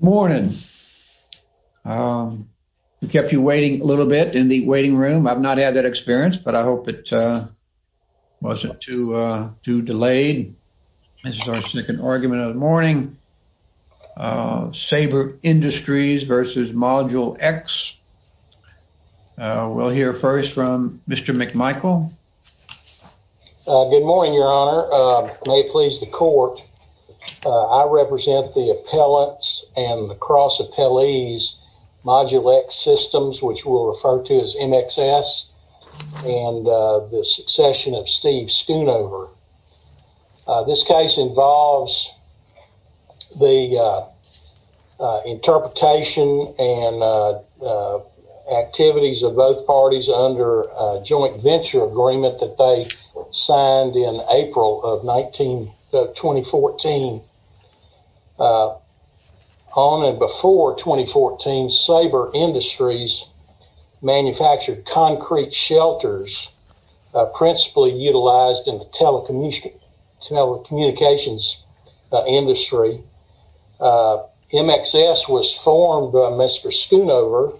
Morning. We kept you waiting a little bit in the waiting room. I've not had that experience, but I hope it wasn't too delayed. This is our second argument of the morning. Sabre Industries v. Module X. We'll hear first from Mr. McMichael. Good morning, Your Honor. May it please the court. I represent the appellants and the cross appellees, Module X Systems, which we'll refer to as MXS, and the succession of Steve Schoonover. This case involves the interpretation and activities of both parties under joint venture agreement that they signed in April of 2014. On and before 2014, Sabre Industries manufactured concrete shelters, principally utilized in the telecommunications industry. MXS was formed by Mr. Schoonover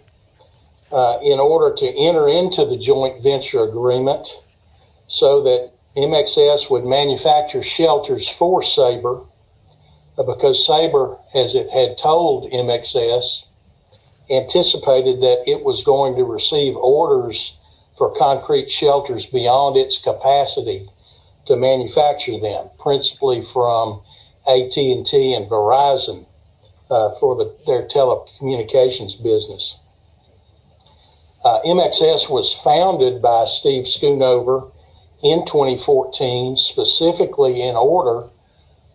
in order to enter into the joint venture agreement, so that MXS would manufacture shelters for Sabre, because Sabre, as it had told MXS, anticipated that it was going to receive orders for concrete shelters beyond its capacity to manufacture them, principally from AT&T and Verizon for their telecommunications business. MXS was founded by Steve Schoonover in 2014, specifically in order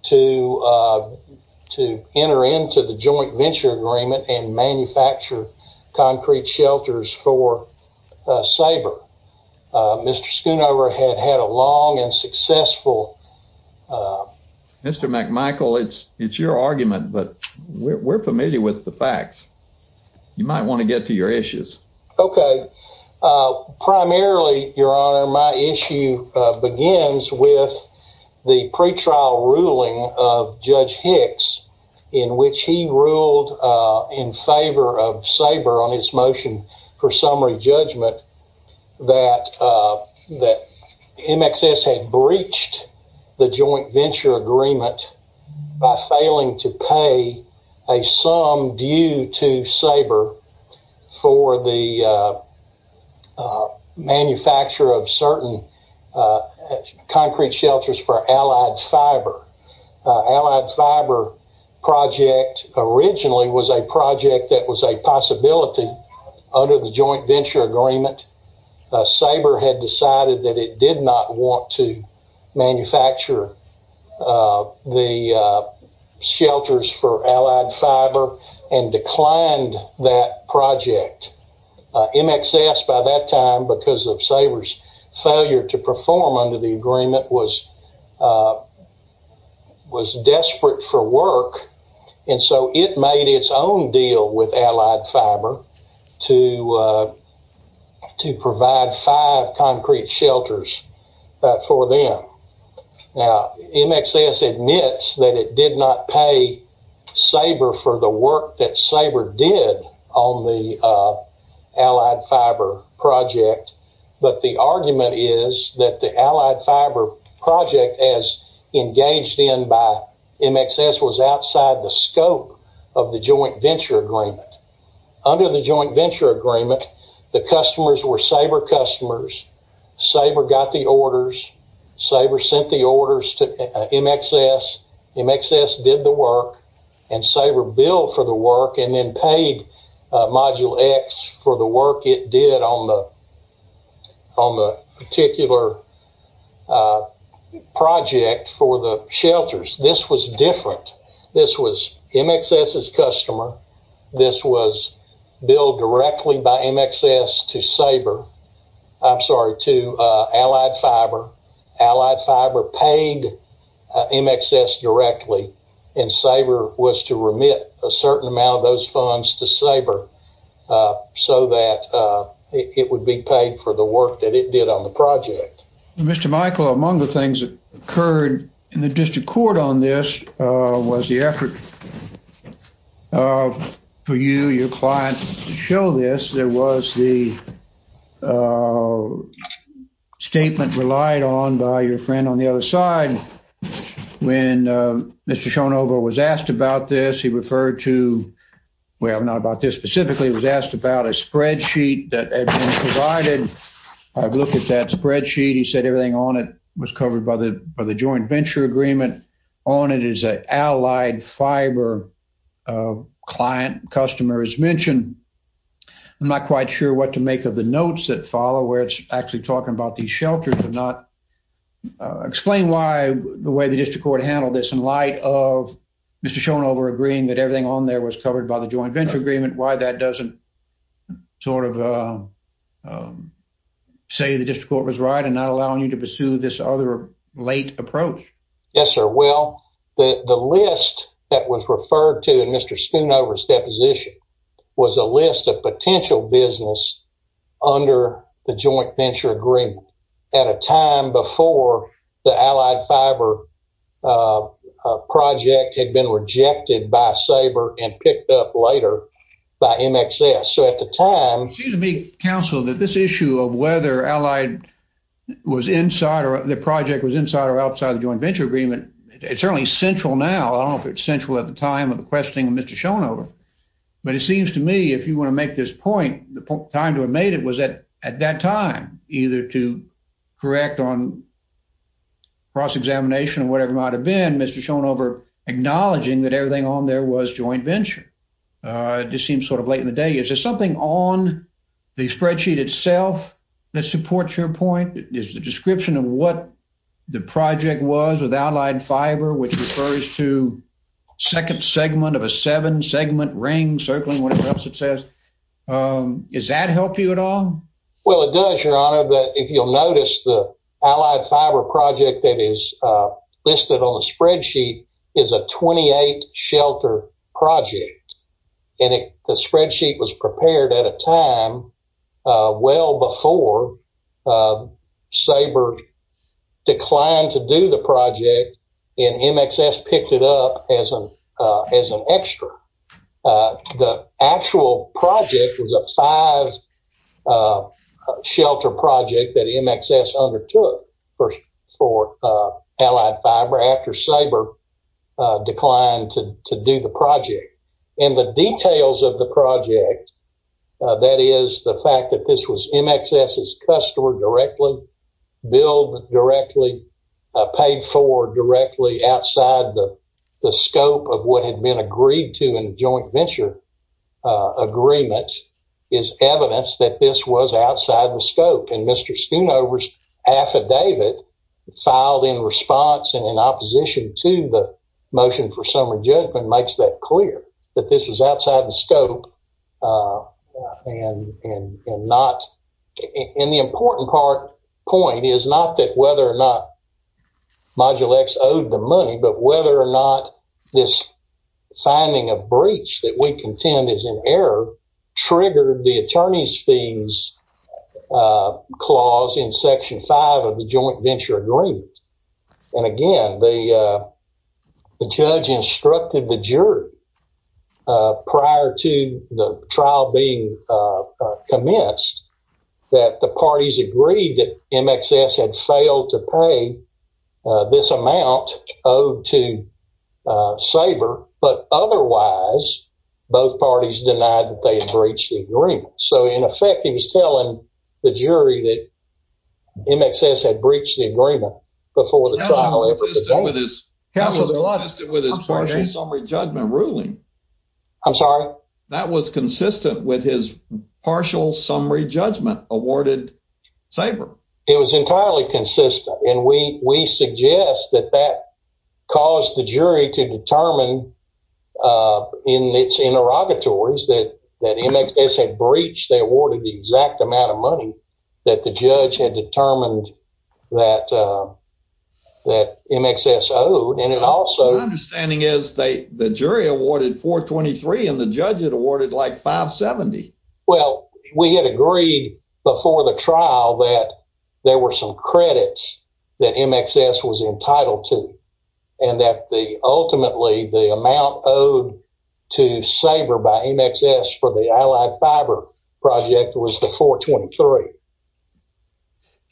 to enter into the joint venture agreement and manufacture concrete shelters for Sabre. Mr. Schoonover had had a long and successful... Mr. McMichael, it's your argument, but we're familiar with the facts. You might want to get to your issues. Okay. Primarily, Your Honor, my issue begins with the pretrial ruling of Judge Hicks, in which he ruled in favor of judgment that MXS had breached the joint venture agreement by failing to pay a sum due to Sabre for the manufacture of certain concrete shelters for Allied Fiber. Allied Fiber project originally was a project that was a possibility under the joint venture agreement. Sabre had decided that it did not want to manufacture the shelters for Allied Fiber and declined that project. MXS, by that time, because of Sabre's failure to perform under the work, and so it made its own deal with Allied Fiber to provide five concrete shelters for them. Now, MXS admits that it did not pay Sabre for the work that Sabre did on the Allied Fiber project, but the argument is that the Allied Fiber project, as engaged in by MXS, was outside the scope of the joint venture agreement. Under the joint venture agreement, the customers were Sabre customers. Sabre got the orders. Sabre sent the orders to MXS. MXS did the on the particular project for the shelters. This was different. This was MXS's customer. This was billed directly by MXS to Allied Fiber. Allied Fiber paid MXS directly, and Sabre was to remit a certain amount of those funds to Sabre so that it would be paid for the work that it did on the project. Mr. Michael, among the things that occurred in the district court on this was the effort for you, your client, to show this. There was the statement relied on by your friend on the other side. When Mr. Shonova was asked about this, well, not about this specifically, he was asked about a spreadsheet that had been provided. I've looked at that spreadsheet. He said everything on it was covered by the joint venture agreement. On it is an Allied Fiber client customer is mentioned. I'm not quite sure what to make of the notes that follow where it's actually talking about these shelters. Could you explain why the way the district court handled this in light of Mr. Shonova agreeing that everything on there was covered by the joint venture agreement, why that doesn't sort of say the district court was right in not allowing you to pursue this other late approach? Yes, sir. Well, the list that was referred to in Mr. Shonova's deposition was a list of potential business under the joint venture agreement at a time before the Allied Fiber project had been rejected by SABRE and picked up later by MXS. So at the time... It seems to me, counsel, that this issue of whether Allied was inside or the project was inside or outside the joint venture agreement, it's certainly central now. I don't know if it's central at the time of the point. The time to have made it was at that time, either to correct on cross examination or whatever it might have been, Mr. Shonova acknowledging that everything on there was joint venture. It just seems sort of late in the day. Is there something on the spreadsheet itself that supports your point? Is the description of what the project was with Allied Fiber, which refers to second segment of a seven-segment ring circling whatever else it says, does that help you at all? Well, it does, your honor. But if you'll notice, the Allied Fiber project that is listed on the spreadsheet is a 28-shelter project. And the spreadsheet was MXS picked it up as an extra. The actual project was a five-shelter project that MXS undertook for Allied Fiber after SABRE declined to do the project. And the details of the project, that is the fact that this was MXS's customer directly, billed directly, paid for directly outside the scope of what had been agreed to in joint venture agreement, is evidence that this was outside the scope. And Mr. Shonova's affidavit filed in response and in opposition to the motion for summary judgment makes that clear, that this was outside the scope. And the important point is not that whether or not Module X owed the money, but whether or not this finding of breach that we contend is in error triggered the attorney's fees clause in section five of the joint venture agreement. And again, the judge instructed the jury prior to the trial being commenced that the parties agreed that MXS had failed to pay this amount owed to SABRE, but otherwise both parties denied that they had breached the agreement. So, in effect, he was telling the jury that MXS had breached the agreement before the trial ever began. That was consistent with his partial summary judgment ruling. I'm sorry? That was consistent with his partial summary judgment awarded SABRE. It was entirely consistent. And we suggest that that caused the jury to determine in its interrogatories that MXS had breached, they awarded the exact amount of money that the judge had determined that MXS owed. My understanding is the jury awarded $423 and the judge had awarded like $570. Well, we had agreed before the trial that there were some credits that MXS was entitled to, and that ultimately the amount owed to SABRE by MXS for the Allied Fiber project was the $423.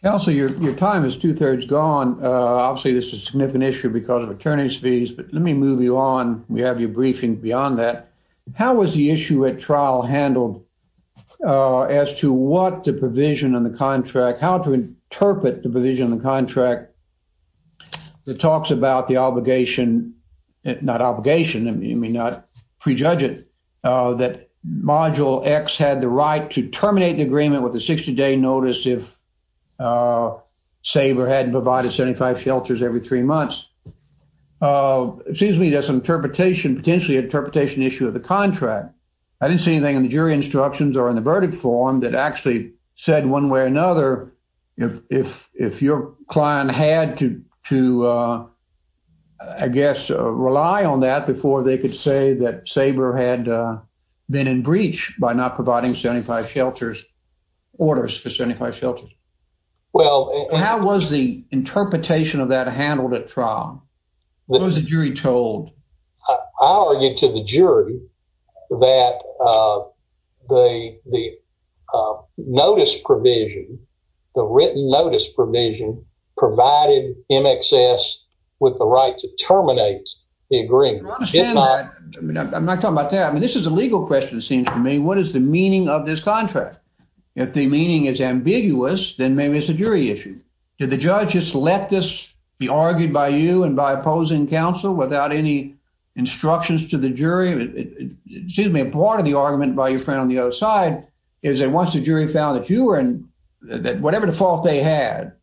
Counselor, your time is two-thirds gone. Obviously, this is a significant issue because of attorney's fees, but let me move you on. We have your briefing beyond that. How was the issue at trial handled as to what the provision on the contract, how to interpret the provision on the contract that talks about the obligation, not obligation, you may not prejudge it, that Module X had the right to terminate the agreement with a 60-day notice if SABRE hadn't provided 75 shelters every three months. It seems to me there's some interpretation, potentially interpretation issue of the contract. I didn't see anything in the jury instructions or in the verdict form that actually said one way or another, if your client had to, I guess, rely on that before they could say that SABRE had been in breach by not providing 75 shelters, orders for 75 shelters. How was the interpretation of that handled at trial? What was the jury told? I argued to the jury that the notice provision, the written notice provision, provided MXS with the right to terminate the agreement. I understand that. I'm not talking about that. I mean, this is a legal question, it seems to me. What is the meaning of this contract? If the meaning is ambiguous, then maybe it's a jury issue. Did the judge just let this be argued by you and by opposing counsel without any instructions to the jury? It seems to me part of the argument by your friend on the other side is that once the jury found that you were in, that whatever default they had,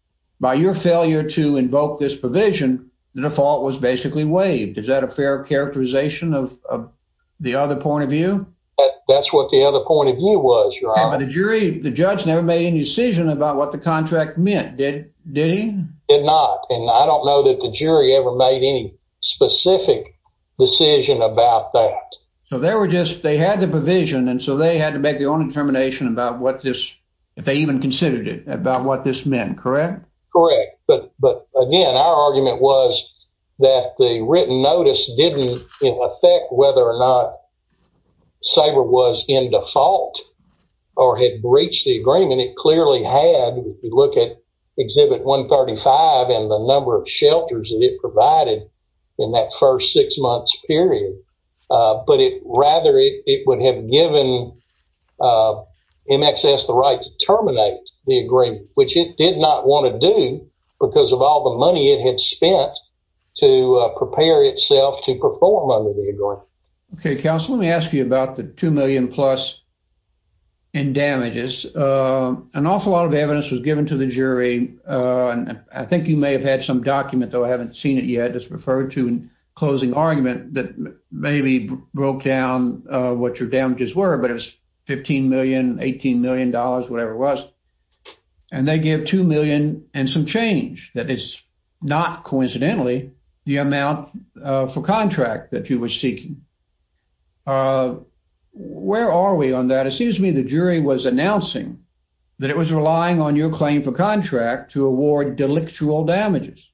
by your failure to invoke this provision, the default was basically waived. Is that a fair characterization of the other point of view? That's what the other point of view was, your honor. But the jury, the judge never made any decision about what the contract meant, did he? Did not. And I don't know that the jury ever made any specific decision about that. So they were just, they had the provision and so they had to make their own determination about if they even considered it, about what this meant, correct? Correct. But again, our argument was that the written notice didn't affect whether or not Sabre was in default or had breached the agreement. It clearly had, if you look at Exhibit 135 and the number of shelters that it provided in that first six months period. But rather it would have given MXS the right to terminate the agreement, which it did not want to do because of all the money it had spent to prepare itself to perform under the agreement. Okay, counsel, let me ask you about the $2 million plus in damages. An awful lot of evidence was given to the jury. I think you may have had some document, though I haven't seen it yet, it's referred to in closing argument that maybe broke down what your damages were, but it was $15 million, $18 million, whatever it was. And they give $2 million and some change, that is not coincidentally the amount for contract that you were seeking. Where are we on that? It seems to me the jury was announcing that it was relying on your claim for contract to award delictual damages.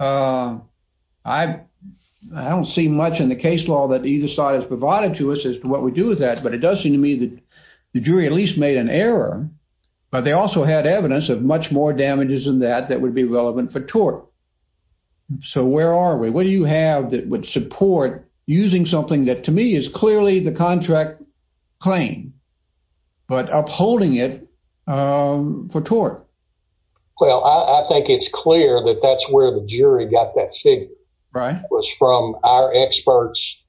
I don't see much in the case law that either side has provided to us as to what we do with that, but it does seem to me that the jury at least made an error, but they also had evidence of much more damages than that that would be relevant for tort. So where are we? What do you have that would support using something that to me is clearly the contract claim, but upholding it for tort? Well, I think it's clear that that's where the jury got that figure. Right. It was from our experts'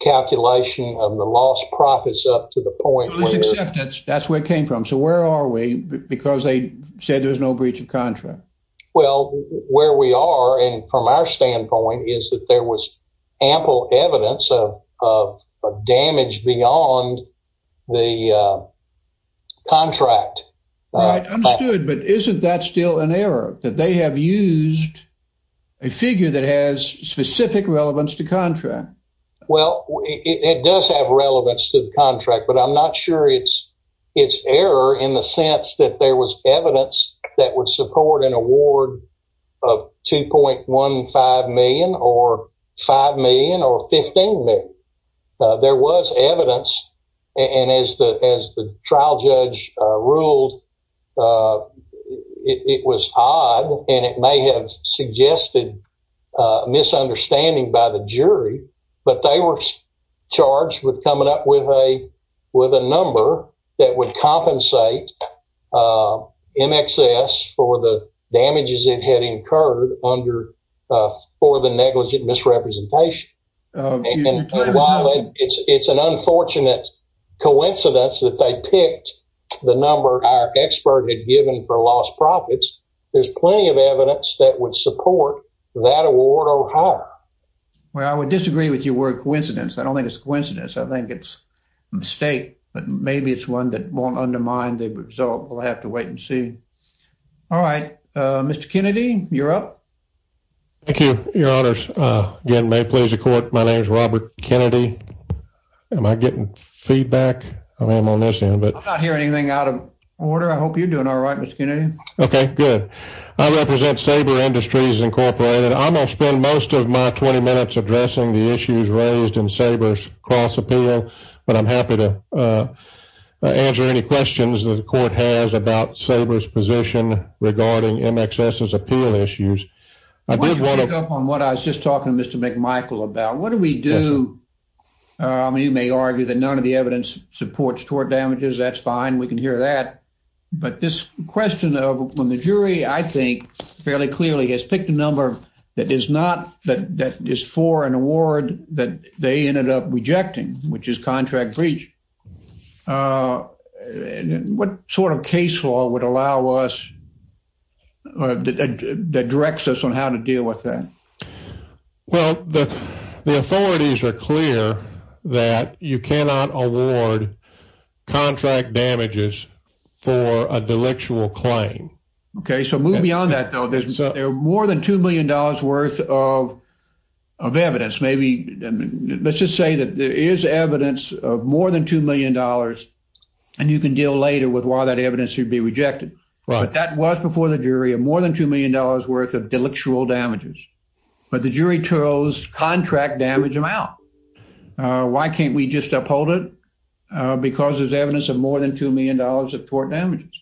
calculation of the lost profits up to the point where... Well, it's acceptance. That's where it came from. So where are we? Because they said there was no breach of contract. Well, where we are and from our standpoint is that there was ample evidence of damage beyond the contract. Right. Understood. But isn't that still an error that they have used a figure that has specific relevance to contract? Well, it does have relevance to the contract, but I'm not sure it's error in the sense that there was evidence that would support an award of $2.15 million or $5 million or $15 million. There was evidence, and as the trial judge ruled, it was odd and it may have suggested misunderstanding by the jury, but they were charged with coming up with a number that would compensate MXS for the damages it had incurred for the negligent misrepresentation. And while it's an unfortunate coincidence that they picked the number our expert had given for lost profits, there's plenty of evidence that would support that award or higher. Well, I would disagree with your word coincidence. I don't think it's a coincidence. I think it's a mistake, but maybe it's one that won't undermine the result. We'll have to wait and see. All right. Mr. Kennedy, you're up. Thank you, your honors. Again, may it please the court, my name is Robert Kennedy. Am I getting feedback? I am on this end. I'm not hearing anything out of order. I hope you're doing all right, Mr. Kennedy. Okay, good. I represent Saber Industries Incorporated. I'm going to spend most of my 20 minutes addressing the issues raised in Saber's cross appeal, but I'm happy to answer any questions that the court has about Saber's position regarding MXS's appeal issues. On what I was just talking to Mr. McMichael about, what do we do? You may argue that none of the evidence supports tort damages. That's fine. We can hear that. But this question of when the jury, I think, fairly clearly has picked a number that is not, that is for an award that they ended up rejecting, which is contract breach. And what sort of case law would allow us, that directs us on how to deal with that? Well, the authorities are clear that you cannot award contract damages for a delictual claim. Okay, so move beyond that, though. There's more than $2 million worth of evidence. Maybe, let's just say that there is evidence of more than $2 million, and you can deal later with why that evidence should be rejected. But that was before the jury of more than $2 million worth of delictual damages. But the jury chose contract damage amount. Why can't we just uphold it? Because there's evidence of more than $2 million of tort damages.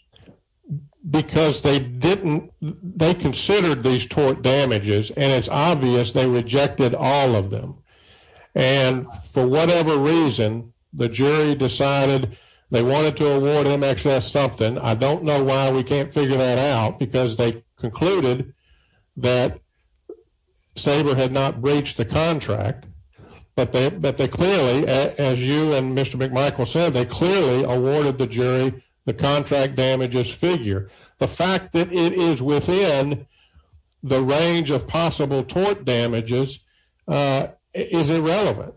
Because they didn't, they considered these tort damages, and it's obvious they rejected all of them. And for whatever reason, the jury decided they wanted to award them excess something. I don't know why we can't figure that out, because they concluded that Sabre had not breached the contract. But they, but they clearly, as you and Mr. McMichael said, they clearly awarded the jury the contract damages figure. The fact that it is within the range of possible tort damages is irrelevant.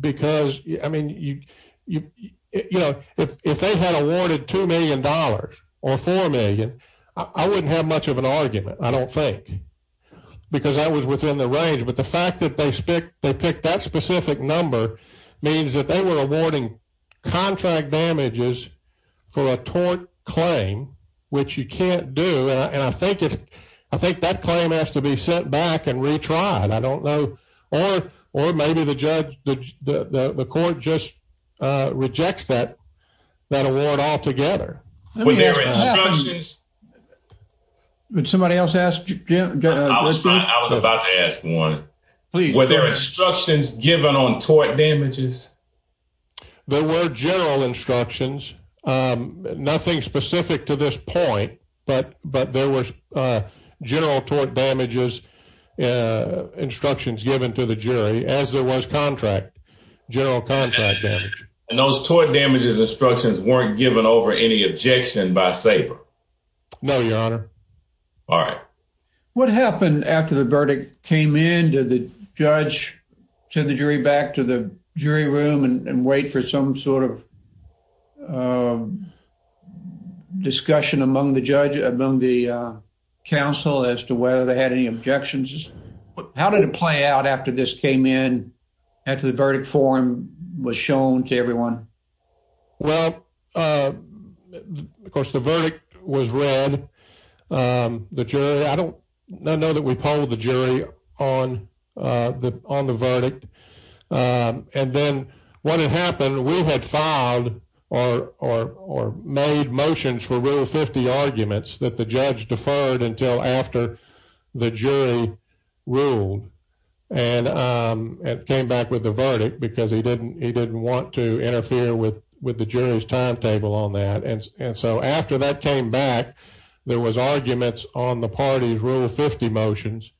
Because, I mean, you know, if they had awarded $2 million or $4 million, I wouldn't have much of an argument, I don't think, because that was within the range. But the fact that they picked that specific number means that they were awarding contract damages for a tort claim, which you can't do. And I think if, I think that claim has to be sent back and retried. I don't know. Or, or maybe the judge, the court just rejects that, that award altogether. Would somebody else ask? I was about to ask one. Were there instructions given on tort damages? There were general instructions. Nothing specific to this point. But, but there was general tort damages instructions given to the jury, as there was contract, general contract. And those tort damages instructions weren't given over any objection by Sabre? No, your honor. All right. What happened after the verdict came in? Did the judge send the jury back to the jury room and wait for some sort of discussion among the judge, among the counsel, as to whether they had any objections? How did it play out after this came in, after the verdict form was shown to everyone? Well, of course, the verdict was read. The jury, I don't, I know that we polled the jury on the, on the verdict. And then what had happened, we had filed or, or, or made motions for Rule 50 arguments that the judge deferred until after the jury ruled. And it came back with the verdict because he didn't, he didn't want to interfere with, with the jury's timetable on that. And, and so after that came back, there was arguments on the party's Rule 50 motions,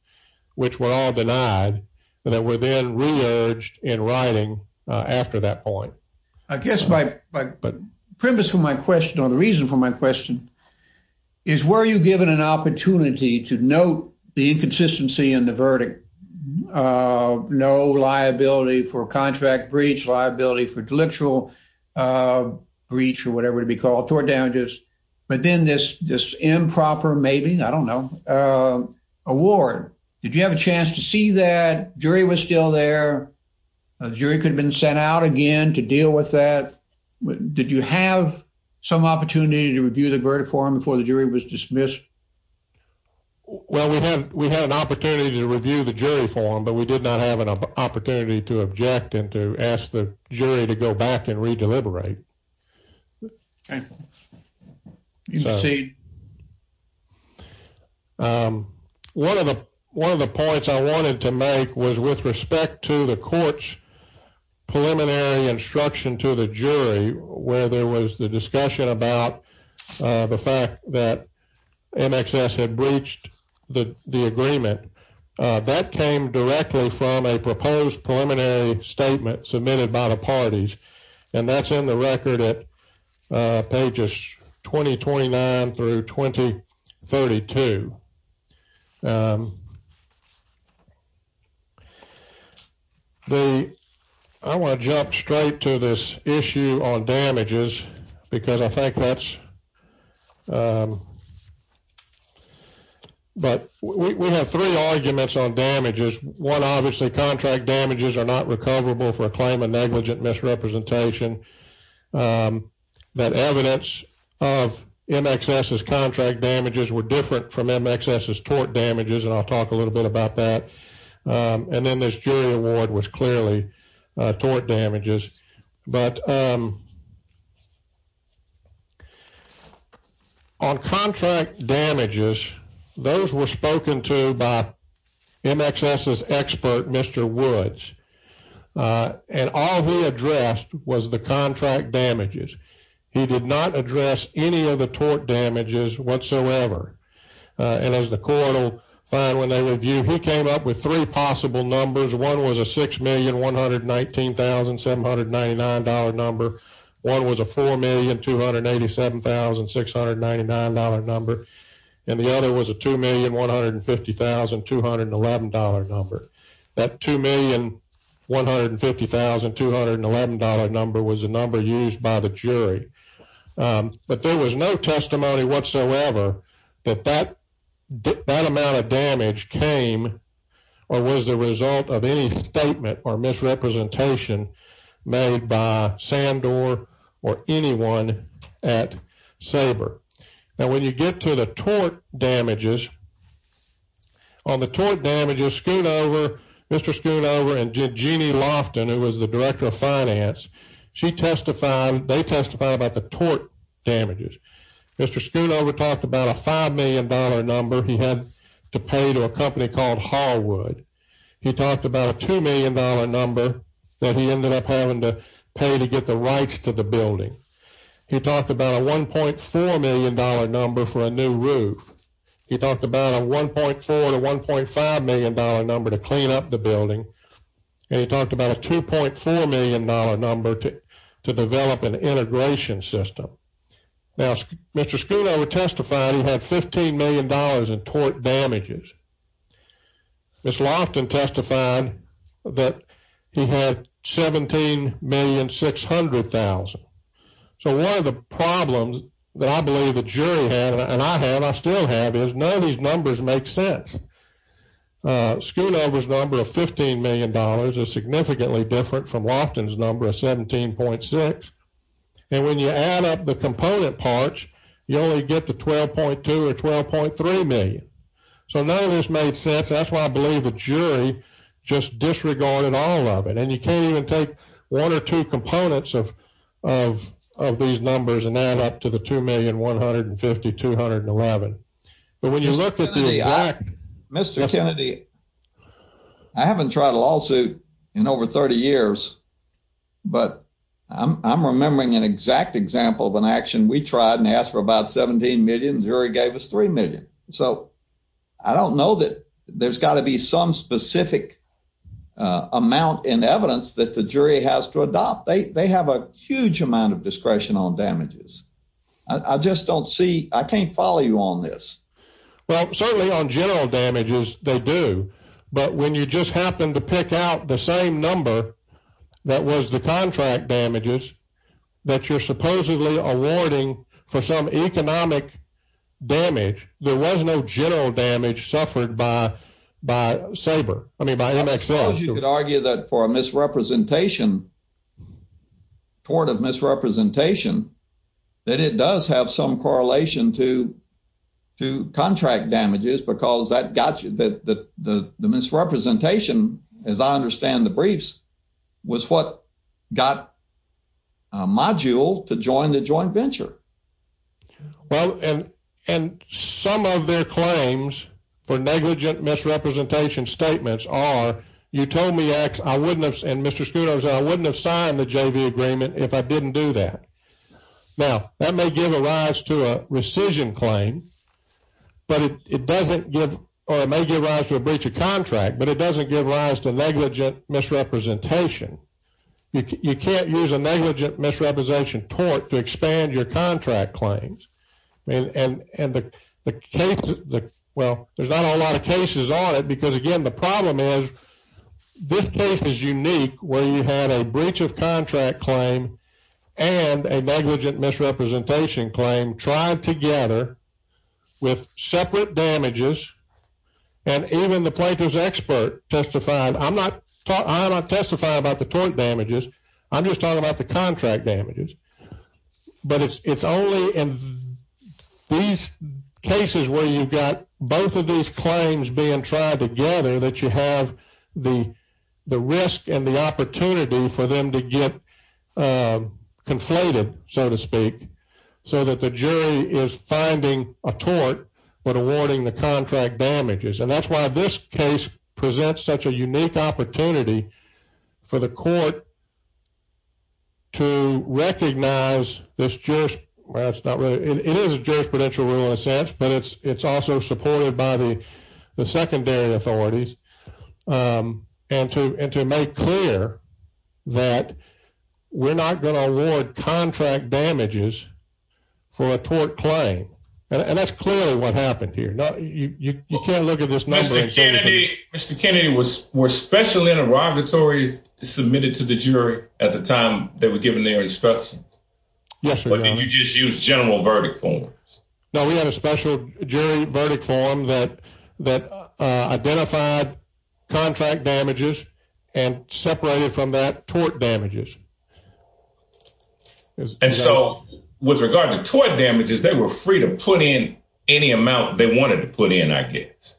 which were all then re-urged in writing after that point. I guess my premise for my question, or the reason for my question, is were you given an opportunity to note the inconsistency in the verdict? No liability for contract breach, liability for delictual breach or whatever it'd be called, tort damages. But then this, this improper, maybe, I don't know, award. Did you have a chance to see that? Jury was still there. The jury could have been sent out again to deal with that. Did you have some opportunity to review the verdict for him before the jury was dismissed? Well, we had, we had an opportunity to review the jury form, but we did not have an opportunity to object and to ask the jury to go back and re-deliberate. Okay. You can proceed. Um, one of the, one of the points I wanted to make was with respect to the court's preliminary instruction to the jury, where there was the discussion about the fact that MXS had breached the, the agreement. That came directly from a proposed preliminary statement submitted by the parties. And that's in the record at pages 2029 through 2032. The, I want to jump straight to this issue on damages, because I think that's, but we have three arguments on damages. One, obviously contract damages are not recoverable for a claim of negligent misrepresentation. That evidence of MXS's contract damages were different from MXS's tort damages, and I'll talk a little bit about that. And then this jury award was clearly tort damages, but on contract damages, those were spoken to by MXS's expert, Mr. Woods. And all he addressed was the contract damages. He did not address any of the tort damages whatsoever. And as the court will find when they review, he came up with three possible numbers. One was a $6,119,799 number. One was a $4,287,699 number. And the other was a $2,150,211 number. That $2,150,211 number was a number used by the jury. But there was no testimony whatsoever that that amount of damage came or was the result of any statement or misrepresentation made by Sandor or anyone at Sabre. Now, when you get to the tort damages, on the tort damages, Mr. Schoonover and Jeanne Loftin, who was the director of finance, she testified, they testified about the tort damages. Mr. Schoonover talked about a $5 million number he had to pay to a company called Hallwood. He talked about a $2 million number that he ended up having to pay to get the rights to the building. He talked about a $1.4 million number for a new building. He talked about a $1.4 to $1.5 million number to clean up the building. And he talked about a $2.4 million number to develop an integration system. Now, Mr. Schoonover testified he had $15 million in tort damages. Ms. Loftin testified that he had $17,600,000. So one of the numbers makes sense. Mr. Schoonover's number of $15 million is significantly different from Loftin's number of $17,600,000. And when you add up the component parts, you only get to $12.2 million or $12.3 million. So none of this made sense. That's why I believe the jury just disregarded all of it. And you can't even take one or two components of these numbers and add up to the exact... Mr. Kennedy, I haven't tried a lawsuit in over 30 years, but I'm remembering an exact example of an action. We tried and asked for about $17 million. The jury gave us $3 million. So I don't know that there's got to be some specific amount in evidence that the jury has to adopt. They have a huge amount of discretion on damages. I just don't see... I can't follow you on this. Well, certainly on general damages, they do. But when you just happen to pick out the same number that was the contract damages that you're supposedly awarding for some economic damage, there was no general damage suffered by Sabre. I mean, by MXL. I suppose you could argue that for a misrepresentation, court of misrepresentation, that it does have some correlation to contract damages, because the misrepresentation, as I understand the briefs, was what got Module to join the joint venture. Well, and some of their claims for negligent misrepresentation statements are, you told me, and Mr. Scudero said, I wouldn't have signed the JV agreement if I didn't do that. Now, that may give a rise to a rescission claim, but it doesn't give... or it may give rise to a breach of contract, but it doesn't give rise to negligent misrepresentation. You can't use a negligent misrepresentation tort to expand your contract claims. And the case... well, there's not a lot of cases on it, because again, the problem is this case is unique, where you had a breach of contract claim and a negligent misrepresentation claim tried together with separate damages, and even the plaintiff's expert testified. I'm not talking... I'm not testifying about the tort damages. I'm just talking about the contract damages. But it's only in these cases where you've got both of these claims being tried together that you have the risk and the opportunity for them to get conflated, so to speak, so that the jury is finding a tort, but awarding the contract damages. And that's why this case presents such a unique opportunity for the court to recognize this... well, it's not really... it is a jurisprudential rule in a sense, but it's also supported by the secondary authorities, and to make clear that we're not going to award contract damages for a tort claim. And that's clearly what happened here. You can't look at this number... Mr. Kennedy, were special interrogatories submitted to the jury at the time they were given their instructions? Yes, sir. But did you just use general verdict forms? No, we had a special jury verdict form that identified contract damages and separated from that tort damages. And so with regard to tort damages, they were free to put in any amount they wanted to put in, I guess.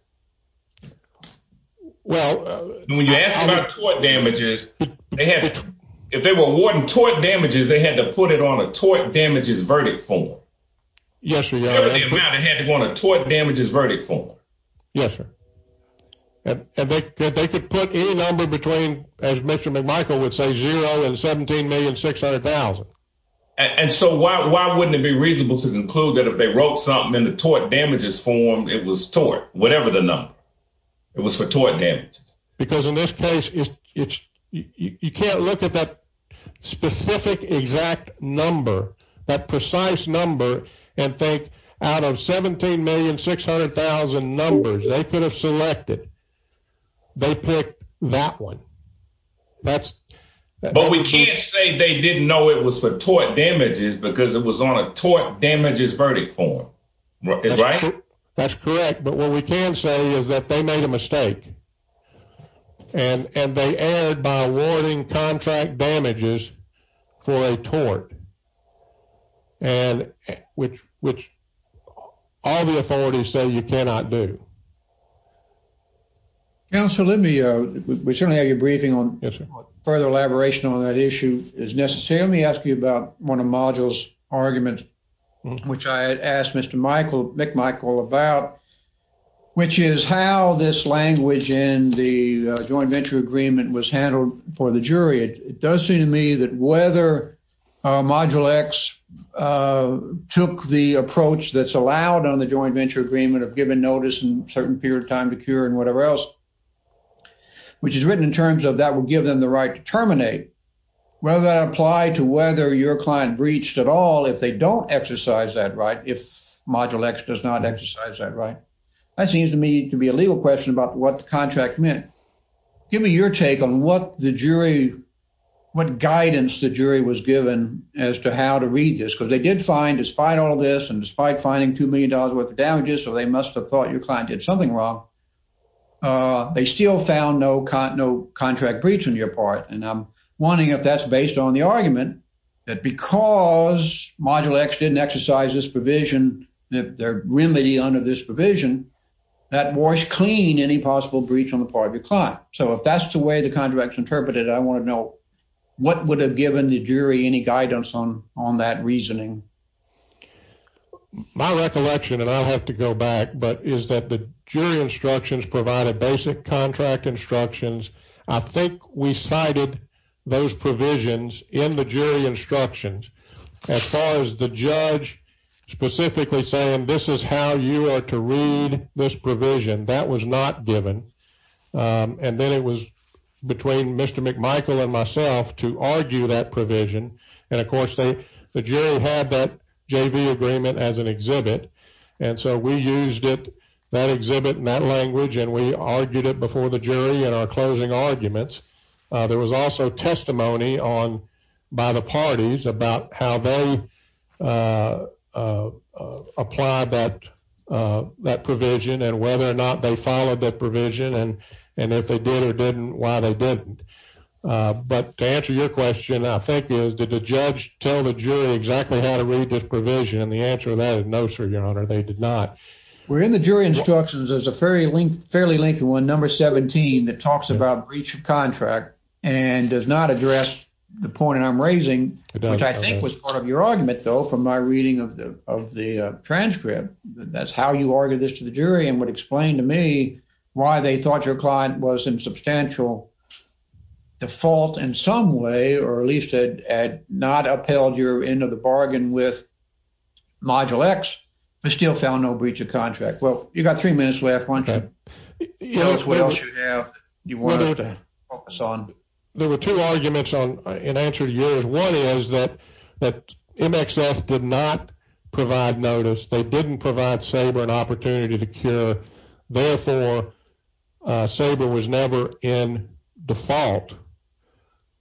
When you ask about tort damages, if they were awarding tort damages, they had to put it on a tort damages verdict form. Yes, sir. The amount it had to go on a tort damages verdict form. Yes, sir. And they could put any number between, as Mr. McMichael would say, zero and $17,600,000. And so why wouldn't it be reasonable to conclude that if they wrote something in the tort damages form, it was tort, whatever the number. It was for tort damages. Because in this case, you can't look at that specific exact number, that precise number, and think out of $17,600,000 numbers they could have selected, they picked that one. But we can't say they didn't know it was for tort damages because it was on a tort damages verdict form. Right? That's correct. But what we can say is that they made a mistake. And they erred by awarding contract damages for a tort. And which all the authorities say you cannot do. Counsel, let me, we certainly have your briefing on further elaboration on that Let me ask you about one of module's arguments, which I asked Mr. McMichael about, which is how this language in the joint venture agreement was handled for the jury. It does seem to me that whether Module X took the approach that's allowed on the joint venture agreement of giving notice and certain period of time to cure and whatever else, which is written in terms that will give them the right to terminate. Will that apply to whether your client breached at all if they don't exercise that right, if Module X does not exercise that right? That seems to me to be a legal question about what the contract meant. Give me your take on what the jury, what guidance the jury was given as to how to read this. Because they did find, despite all this and despite finding $2 million worth of damages, so they must have thought your client did something wrong. They still found no contract breach on your part. And I'm wondering if that's based on the argument that because Module X didn't exercise this provision, their remedy under this provision, that was clean any possible breach on the part of your client. So if that's the way the contract is interpreted, I want to know what would have given the jury any guidance on that reasoning. My recollection, and I'll have to go back, but is that the jury instructions provided basic contract instructions. I think we cited those provisions in the jury instructions. As far as the judge specifically saying, this is how you are to read this provision, that was not given. And then it was between Mr. McMichael and myself to argue that provision. And of course, the jury had that JV agreement as an exhibit. And so we used it, that exhibit in that language, and we argued it before the jury in our closing arguments. There was also testimony on by the parties about how they applied that provision and whether or not they followed that provision, and if they did or didn't, why they didn't. But to answer your question, I think is did the judge tell the jury exactly how to read this provision? And the answer to that is no, sir, your honor, they did not. We're in the jury instructions as a fairly lengthy one, number 17, that talks about breach of contract and does not address the point that I'm raising, which I think was part of your argument though, from my reading of the transcript. That's how you argued this to the jury and would explain to me why they thought your client was in substantial default in some way or at least had not upheld your end of the bargain with Module X, but still found no breach of contract. Well, you've got three minutes left, why don't you tell us what else you have you want us to focus on. There were two arguments in answer to yours. One is that MXS did not provide notice. They didn't provide SABRE an opportunity to cure. Therefore, SABRE was never in default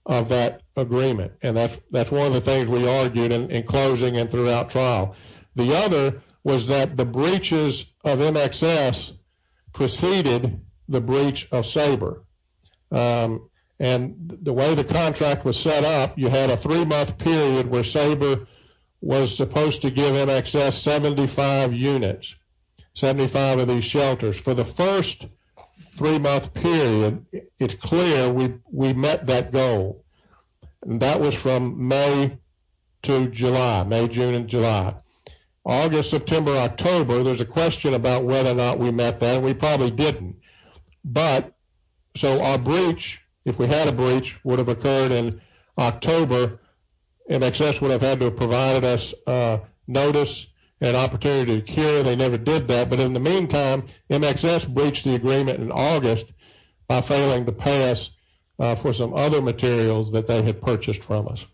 of that agreement. And that's one of the things we argued in closing and throughout trial. The other was that the breaches of MXS preceded the breach of SABRE. And the way the contract was set up, you had a three-month period where SABRE was supposed to give MXS 75 units, 75 of these shelters. For the first three-month period, it's clear we met that goal. That was from May to July, May, June, and July. August, September, October, there's a question about whether or not we met that. We probably didn't. But, so our breach, if we had a breach, would have occurred in October. MXS would have had to have provided us notice and opportunity they never did that. But in the meantime, MXS breached the agreement in August by failing to pay us for some other materials that they had purchased from us.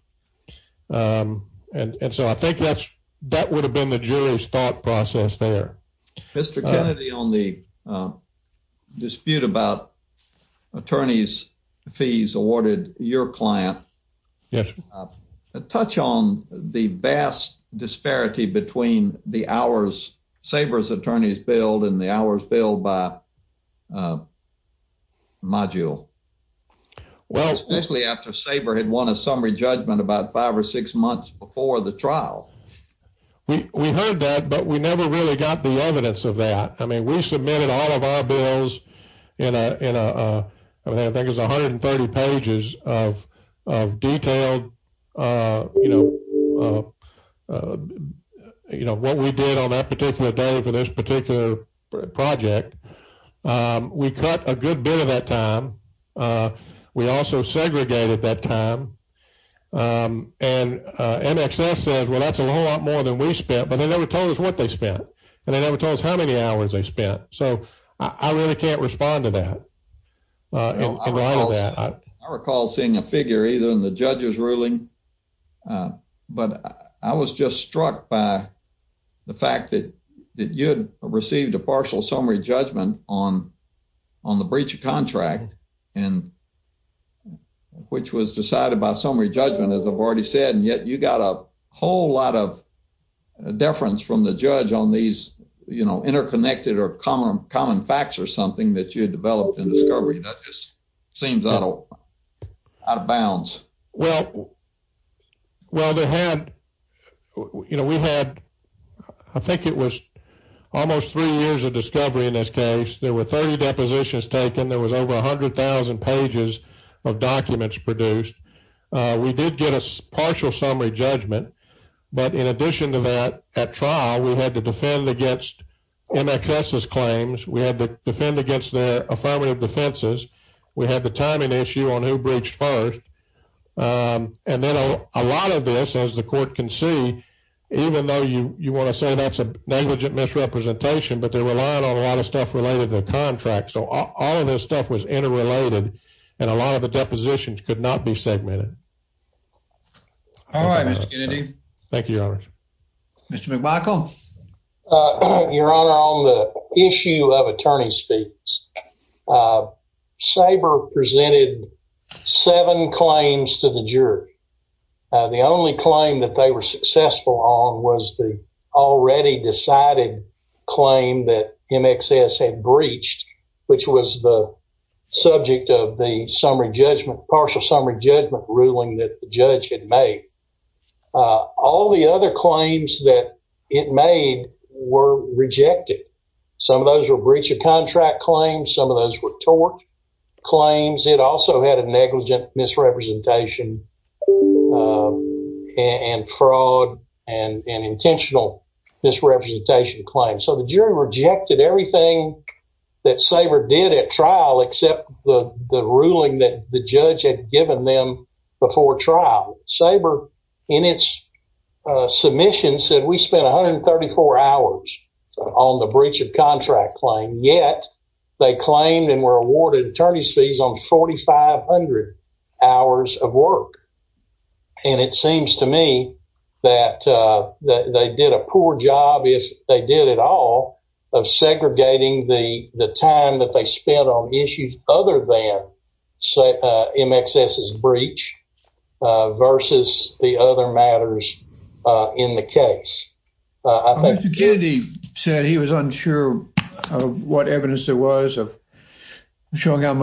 And so I think that's, that would have been the jury's thought process there. Mr. Kennedy, on the dispute about attorneys' fees awarded your client. Yes. Touch on the vast disparity between the hours SABRE's attorneys billed and the hours billed by Module. Well, especially after SABRE had won a summary judgment about five or six months before the trial. We heard that, but we never really got the evidence of that. I mean, we submitted all of our bills in a, I think it's 130 pages of detailed, you know, what we did on that particular day for this particular project. We cut a good bit of that time. We also segregated that time. And MXS says, well, that's a whole lot more than we spent, but they never told us what they spent. And they never told us how many hours they spent. So I really can't respond to that. I recall seeing a figure either in the judge's ruling, but I was just struck by the fact that you had received a partial summary judgment on the breach of contract and which was decided by summary judgment, as I've said, and yet you got a whole lot of deference from the judge on these, you know, interconnected or common facts or something that you had developed in discovery. That just seems out of bounds. Well, well, they had, you know, we had, I think it was almost three years of discovery in this case. There were 30 depositions taken. There was over 100,000 pages of documents produced. We did get a partial summary judgment. But in addition to that, at trial, we had to defend against MXS's claims. We had to defend against their affirmative defenses. We had the timing issue on who breached first. And then a lot of this, as the court can see, even though you want to say that's a negligent misrepresentation, but they're relying on a lot of stuff related to the All right, Mr. Kennedy. Thank you, Your Honor. Mr. McMichael. Your Honor, on the issue of attorney speaks, SABRE presented seven claims to the jury. The only claim that they were successful on was the already decided claim that MXS had breached, which was the subject of the summary judgment, partial summary judgment ruling that the judge had made. All the other claims that it made were rejected. Some of those were breach of contract claims. Some of those were tort claims. It also had a negligent misrepresentation and fraud and an intentional misrepresentation claim. So the jury rejected everything that SABRE did at trial except the ruling that the judge had given them before trial. SABRE, in its submission, said we spent 134 hours on the breach of contract claim, yet they claimed and were awarded attorney's fees on 4,500 hours of work. And it seems to me that they did a poor job, if they did at all, of segregating the time that they spent on issues other than MXS's breach versus the other matters in the case. Mr. Kennedy said he was unsure of what evidence there was of showing how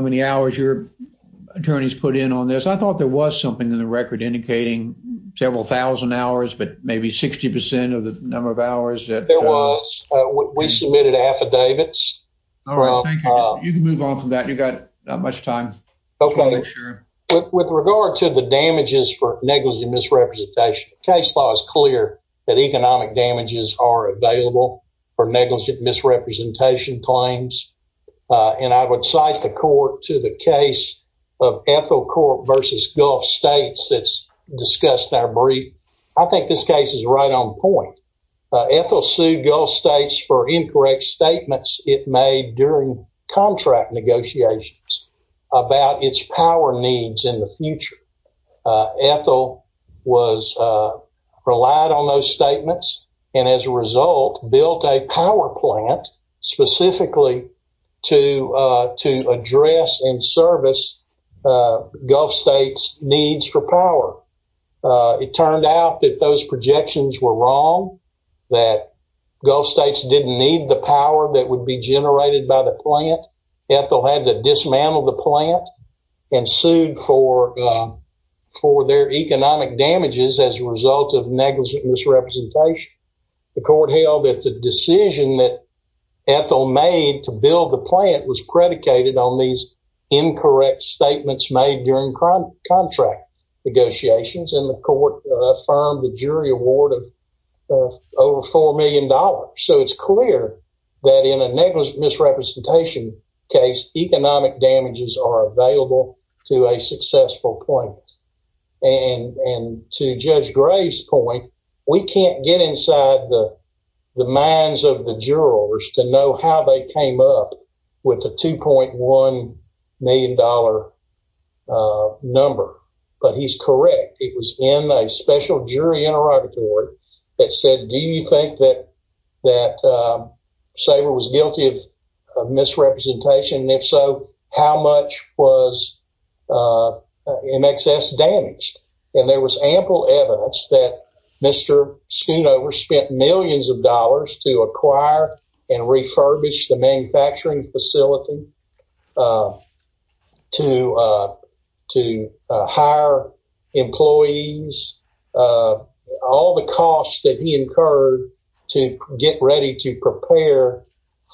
many hours your attorneys put in on this. I thought there was something in the record indicating several thousand hours, but maybe 60 percent of the number of hours that... We submitted affidavits. You can move on from that. You've got not much time. With regard to the damages for negligent misrepresentation, the case law is clear that economic damages are available for negligent misrepresentation claims. And I would cite the court to the case of Ethel Court v. Gulf States that's discussed in our point. Ethel sued Gulf States for incorrect statements it made during contract negotiations about its power needs in the future. Ethel relied on those statements and, as a result, built a power plant specifically to address and service Gulf States' needs for power. It turned out that those projections were wrong, that Gulf States didn't need the power that would be generated by the plant. Ethel had to dismantle the plant and sued for their economic damages as a result of negligent misrepresentation. The court held that the decision that Ethel made to build the plant was predicated on these incorrect statements made during contract negotiations, and the court affirmed the jury award of over $4 million. So it's clear that in a negligent misrepresentation case, economic damages are available to a successful plant. And to Judge Gray's point, we can't get inside the minds of the jurors to know how they came up with a $2.1 million number, but he's correct. It was in a special jury interrogatory that said, do you think that Saber was guilty of misrepresentation? If so, how much was in excess damaged? And there was ample evidence that Mr. Schoonover spent millions of dollars to acquire and refurbish the manufacturing facility, to hire employees, all the costs that he incurred to get ready to prepare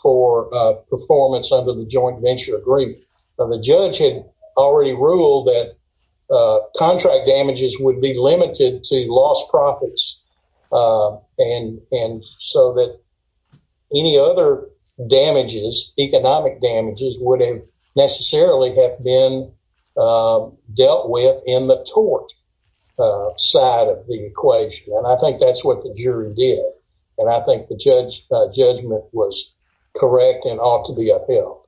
for performance under the joint venture agreement. The judge had already ruled that contract damages would be limited to lost profits, and so that any other damages, economic damages, would have necessarily have been dealt with in the tort side of the equation, and I think that's what the jury did, and I think the judgment was correct and ought to be upheld.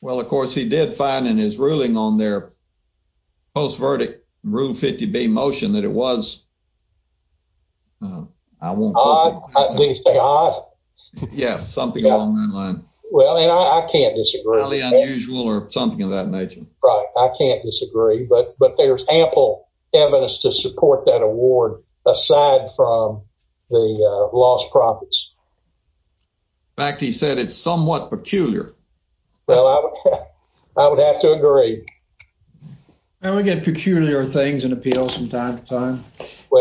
Well, of course, he did find in his ruling on their post-verdict Rule 50B motion that it was odd. Odd? Yes, something along that line. Well, and I can't disagree. Really unusual or something of that nature. Right. I can't disagree, but there's ample evidence to support that award aside from the lost profits. In fact, he said it's somewhat peculiar. Well, I would have to agree. Well, we get peculiar things in appeals from time to time.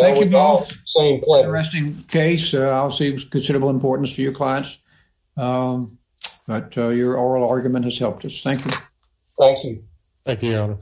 Thank you both. Interesting case. Obviously, it was of considerable importance to your clients, but your oral argument has helped us. Thank you. Thank you. Thank you, Your Honor.